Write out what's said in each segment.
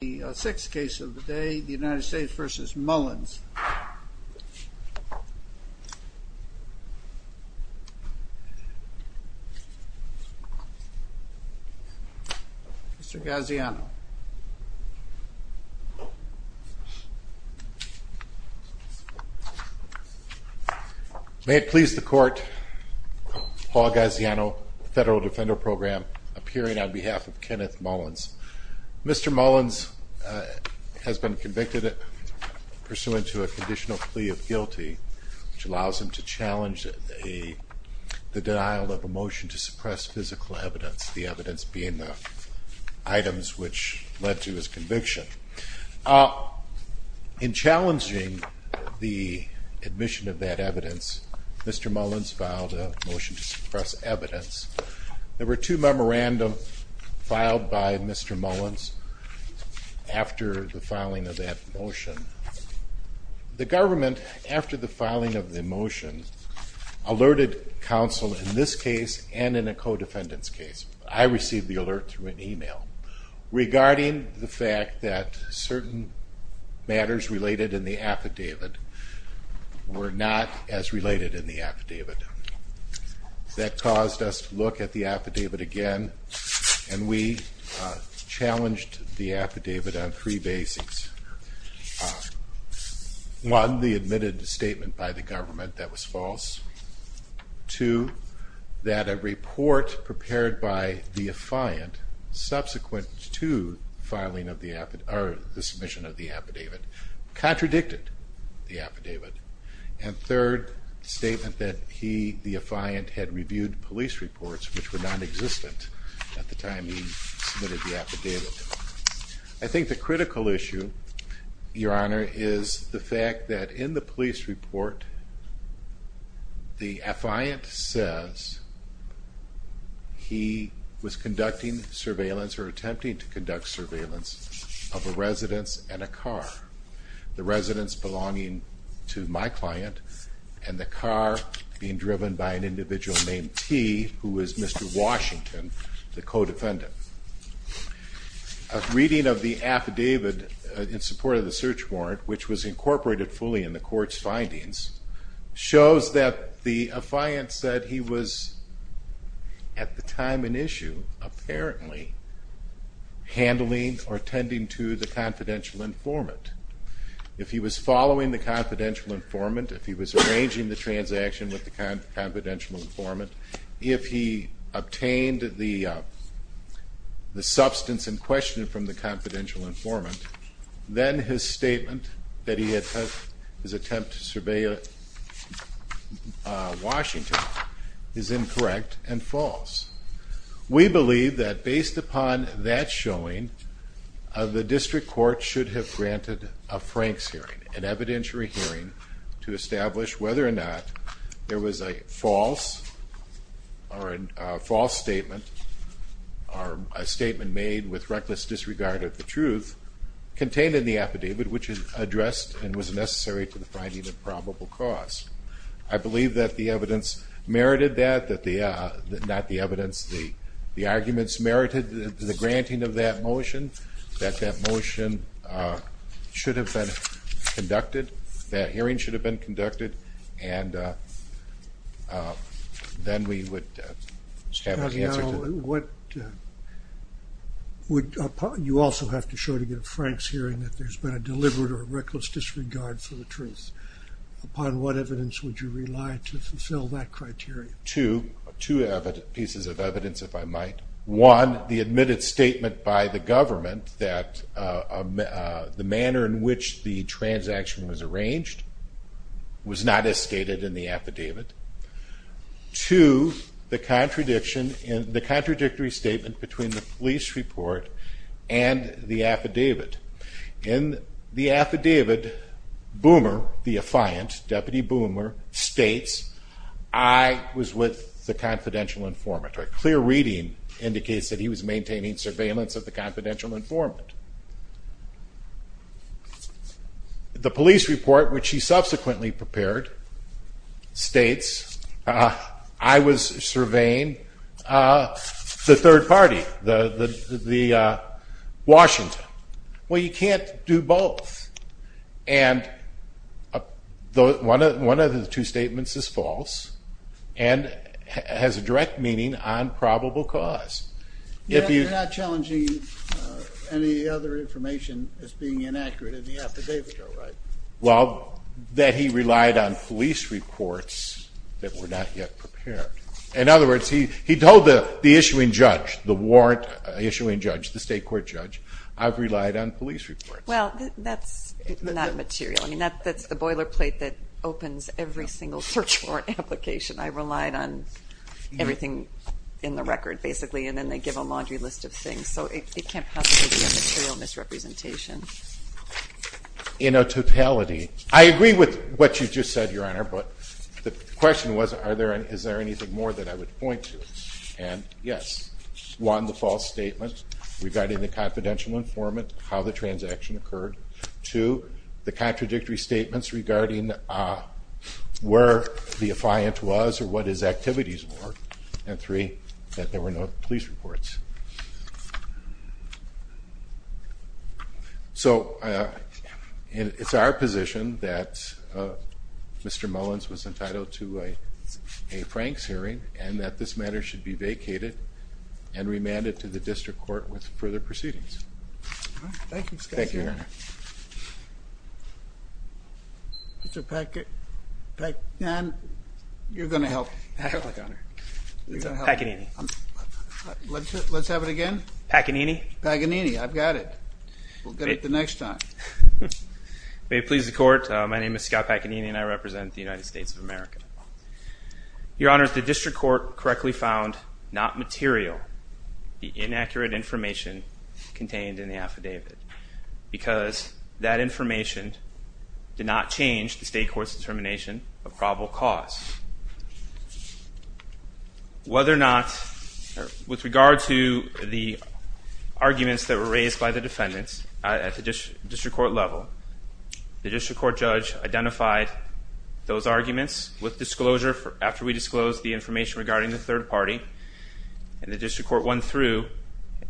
The 6th case of the day, the United States v. Mullins. Mr. Gaziano. May it please the court, Paul Gaziano, Federal Defender Program, appearing on behalf of Kenneth Mullins. Mr. Mullins has been convicted pursuant to a conditional plea of guilty, which allows him to challenge the denial of a motion to suppress physical evidence, the evidence being the items which led to his conviction. In challenging the admission of that evidence, Mr. Mullins filed a motion to suppress evidence. There were two memorandums filed by Mr. Mullins after the filing of that motion. The government, after the filing of the motion, alerted counsel in this case and in a co-defendant's case. I received the alert through an email regarding the fact that certain matters related in the affidavit were not as related in the affidavit. That caused us to look at the affidavit again, and we challenged the affidavit on three basics. One, the admitted statement by the government that was false. Two, that a report prepared by the affiant subsequent to the submission of the affidavit contradicted the affidavit. And third, the statement that he, the affiant, had reviewed police reports which were nonexistent at the time he submitted the affidavit. I think the critical issue, Your Honor, is the fact that in the police report, the affiant says he was conducting surveillance or attempting to conduct surveillance of a residence and a car. The residence belonging to my client and the car being driven by an individual named T, who is Mr. Washington, the co-defendant. A reading of the affidavit in support of the search warrant, which was incorporated fully in the court's findings, shows that the affiant said he was, at the time in issue, apparently handling or attending to the confidential informant. If he was following the confidential informant, if he was arranging the transaction with the confidential informant, if he obtained the substance in question from the confidential informant, then his statement that he had his attempt to surveil Washington is incorrect and false. We believe that based upon that showing, the district court should have granted a Franks hearing, an evidentiary hearing, to establish whether or not there was a false statement, or a statement made with reckless disregard of the truth, contained in the affidavit, which is addressed and was necessary to the finding of probable cause. I believe that the evidence merited that, not the evidence, the arguments merited the granting of that motion, that that motion should have been conducted, that hearing should have been conducted, and then we would have an answer to that. You also have to show to get a Franks hearing that there's been a deliberate or reckless disregard for the truth. Upon what evidence would you rely to fulfill that criteria? Two pieces of evidence, if I might. One, the admitted statement by the government that the manner in which the transaction was arranged was not as stated in the affidavit. Two, the contradictory statement between the police report and the affidavit. In the affidavit, Boomer, the affiant, Deputy Boomer, states, I was with the confidential informant. A clear reading indicates that he was maintaining surveillance of the confidential informant. The police report, which he subsequently prepared, states, I was surveying the third party, the Washington. Well, you can't do both. And one of the two statements is false and has a direct meaning on probable cause. You're not challenging any other information as being inaccurate in the affidavit, are you? Well, that he relied on police reports that were not yet prepared. In other words, he told the issuing judge, the warrant issuing judge, the state court judge, I've relied on police reports. Well, that's not material. I mean, that's the boilerplate that opens every single search warrant application. I relied on everything in the record, basically, and then they give a laundry list of things. So it can't possibly be a material misrepresentation. In a totality, I agree with what you just said, Your Honor, but the question was, is there anything more that I would point to? And yes. One, the false statement regarding the confidential informant, how the transaction occurred. Two, the contradictory statements regarding where the affiant was or what his activities were. And three, that there were no police reports. So it's our position that Mr. Mullins was entitled to a Franks hearing and that this matter should be vacated and remanded to the district court with further proceedings. Thank you, Your Honor. Mr. Paganini, you're going to help. Thank you, Your Honor. Paganini. Let's have it again. Paganini. Paganini, I've got it. We'll get it the next time. May it please the court, my name is Scott Paganini and I represent the United States of America. Your Honor, the district court correctly found not material, the inaccurate information contained in the affidavit. Because that information did not change the state court's determination of probable cause. Whether or not, with regard to the arguments that were raised by the defendants at the district court level, the district court judge identified those arguments with disclosure after we disclosed the information regarding the third party. And the district court went through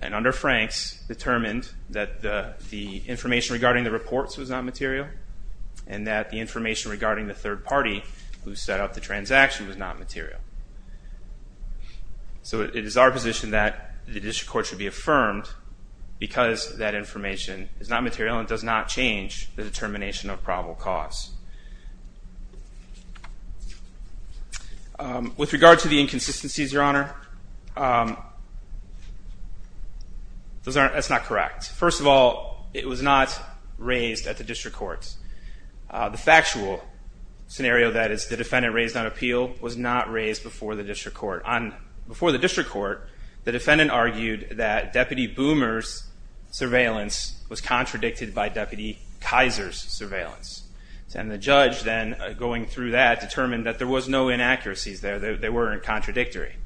and under Franks determined that the information regarding the reports was not material and that the information regarding the third party who set up the transaction was not material. So it is our position that the district court should be affirmed because that information is not material and does not change the determination of probable cause. With regard to the inconsistencies, Your Honor, that's not correct. First of all, it was not raised at the district court. The factual scenario that is the defendant raised on appeal was not raised before the district court. Before the district court, the defendant argued that Deputy Boomer's surveillance was contradicted by Deputy Kaiser's surveillance. And the judge then, going through that, determined that there was no inaccuracies there. They weren't contradictory.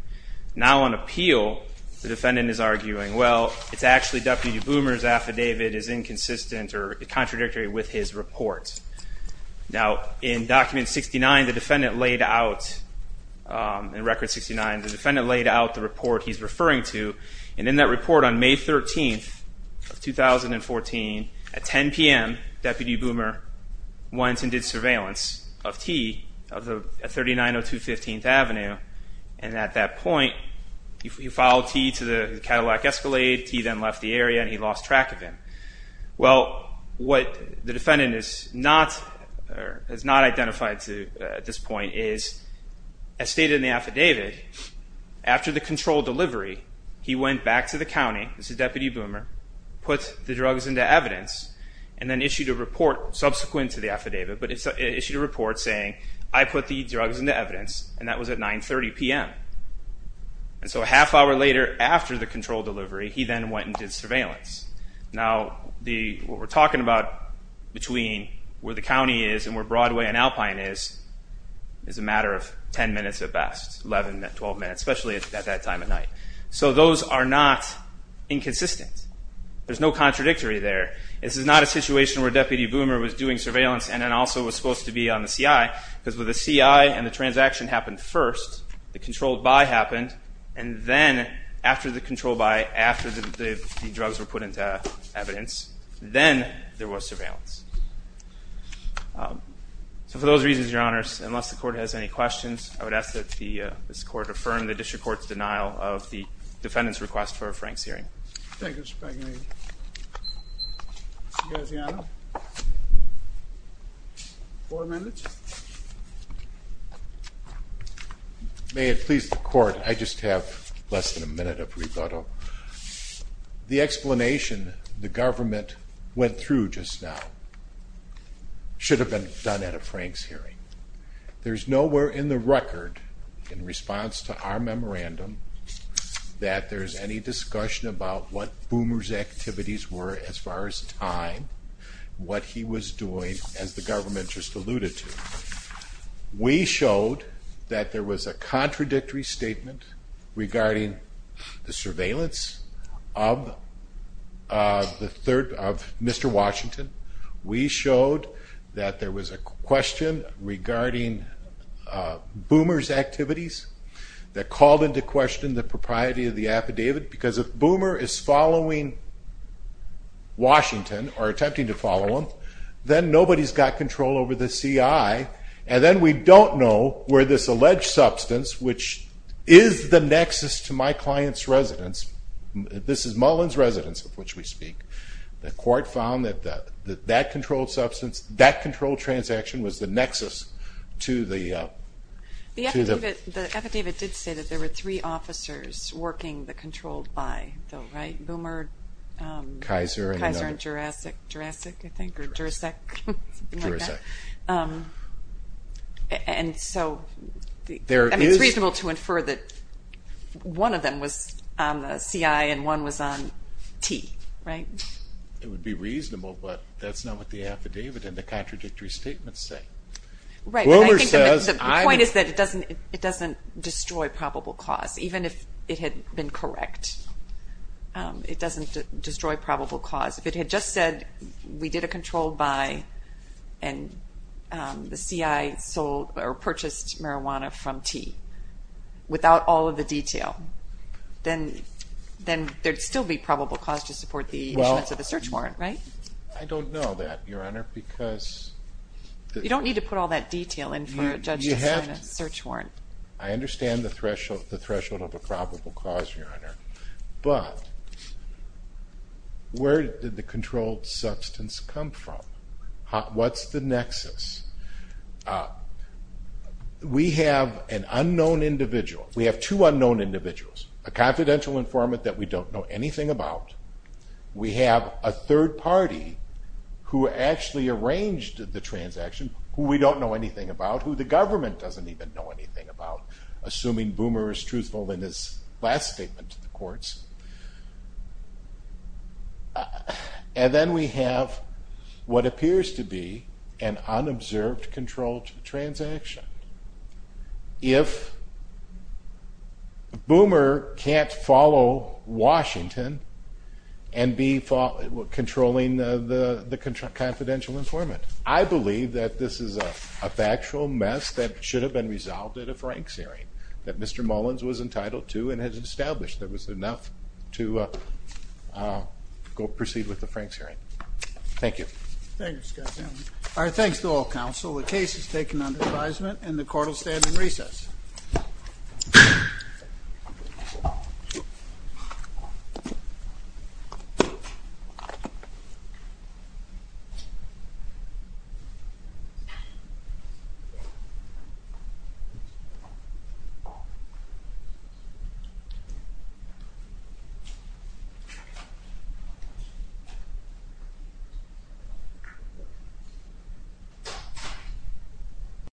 Now on appeal, the defendant is arguing, well, it's actually Deputy Boomer's affidavit is inconsistent or contradictory with his report. Now, in Document 69, the defendant laid out, in Record 69, the defendant laid out the report he's referring to. And in that report on May 13th of 2014, at 10 p.m., Deputy Boomer went and did surveillance of T at 3902 15th Avenue. And at that point, he followed T to the Cadillac Escalade. T then left the area and he lost track of him. Well, what the defendant has not identified at this point is, as stated in the affidavit, after the controlled delivery, he went back to the county, this is Deputy Boomer, put the drugs into evidence, and then issued a report subsequent to the affidavit, but it issued a report saying, I put the drugs into evidence, and that was at 930 p.m. And so a half hour later, after the controlled delivery, he then went and did surveillance. Now, what we're talking about between where the county is and where Broadway and Alpine is, is a matter of 10 minutes at best, 11, 12 minutes, especially at that time of night. So those are not inconsistent. There's no contradictory there. This is not a situation where Deputy Boomer was doing surveillance and then also was supposed to be on the C.I. because with the C.I. and the transaction happened first, the controlled buy happened, and then after the controlled buy, after the drugs were put into evidence, then there was surveillance. So for those reasons, Your Honors, unless the Court has any questions, I would ask that this Court affirm the district court's denial of the defendant's request for a Frank's hearing. Thank you, Mr. McInerney. Mr. Gaziano? Four minutes. May it please the Court, I just have less than a minute of rebuttal. The explanation the government went through just now should have been done at a Frank's hearing. There's nowhere in the record, in response to our memorandum, that there's any discussion about what Boomer's activities were as far as time, what he was doing, as the government just alluded to. We showed that there was a contradictory statement regarding the surveillance of Mr. Washington. We showed that there was a question regarding Boomer's activities that called into question the propriety of the affidavit, because if Boomer is following Washington or attempting to follow him, then nobody's got control over the CI, and then we don't know where this alleged substance, which is the nexus to my client's residence, this is Mullen's residence of which we speak, the Court found that that controlled substance, that controlled transaction, was the nexus to the... The affidavit did say that there were three officers working the controlled by, right? Boomer, Kaiser, and Jurassic, I think, or Jurassic? Jurassic. And so it's reasonable to infer that one of them was on the CI and one was on T, right? It would be reasonable, but that's not what the affidavit and the contradictory statements say. Right, but I think the point is that it doesn't destroy probable cause, even if it had been correct. It doesn't destroy probable cause. If it had just said, we did a controlled by, and the CI purchased marijuana from T, without all of the detail, then there'd still be probable cause to support the issuance of the search warrant, right? I don't know that, Your Honor, because... You don't need to put all that detail in for a judge to sign a search warrant. I understand the threshold of a probable cause, Your Honor, but where did the controlled substance come from? What's the nexus? We have an unknown individual. We have two unknown individuals. A confidential informant that we don't know anything about. We have a third party who actually arranged the transaction, who we don't know anything about, who the government doesn't even know anything about, assuming Boomer is truthful in his last statement to the courts. And then we have what appears to be an unobserved controlled transaction. If Boomer can't follow Washington and be controlling the confidential informant, I believe that this is a factual mess that should have been resolved at a Franks hearing, that Mr. Mullins was entitled to and had established that was enough to go proceed with the Franks hearing. Thank you. Thank you, Mr. Chairman. Our thanks to all counsel. The case is taken under advisement and the court will stand in recess. Thank you.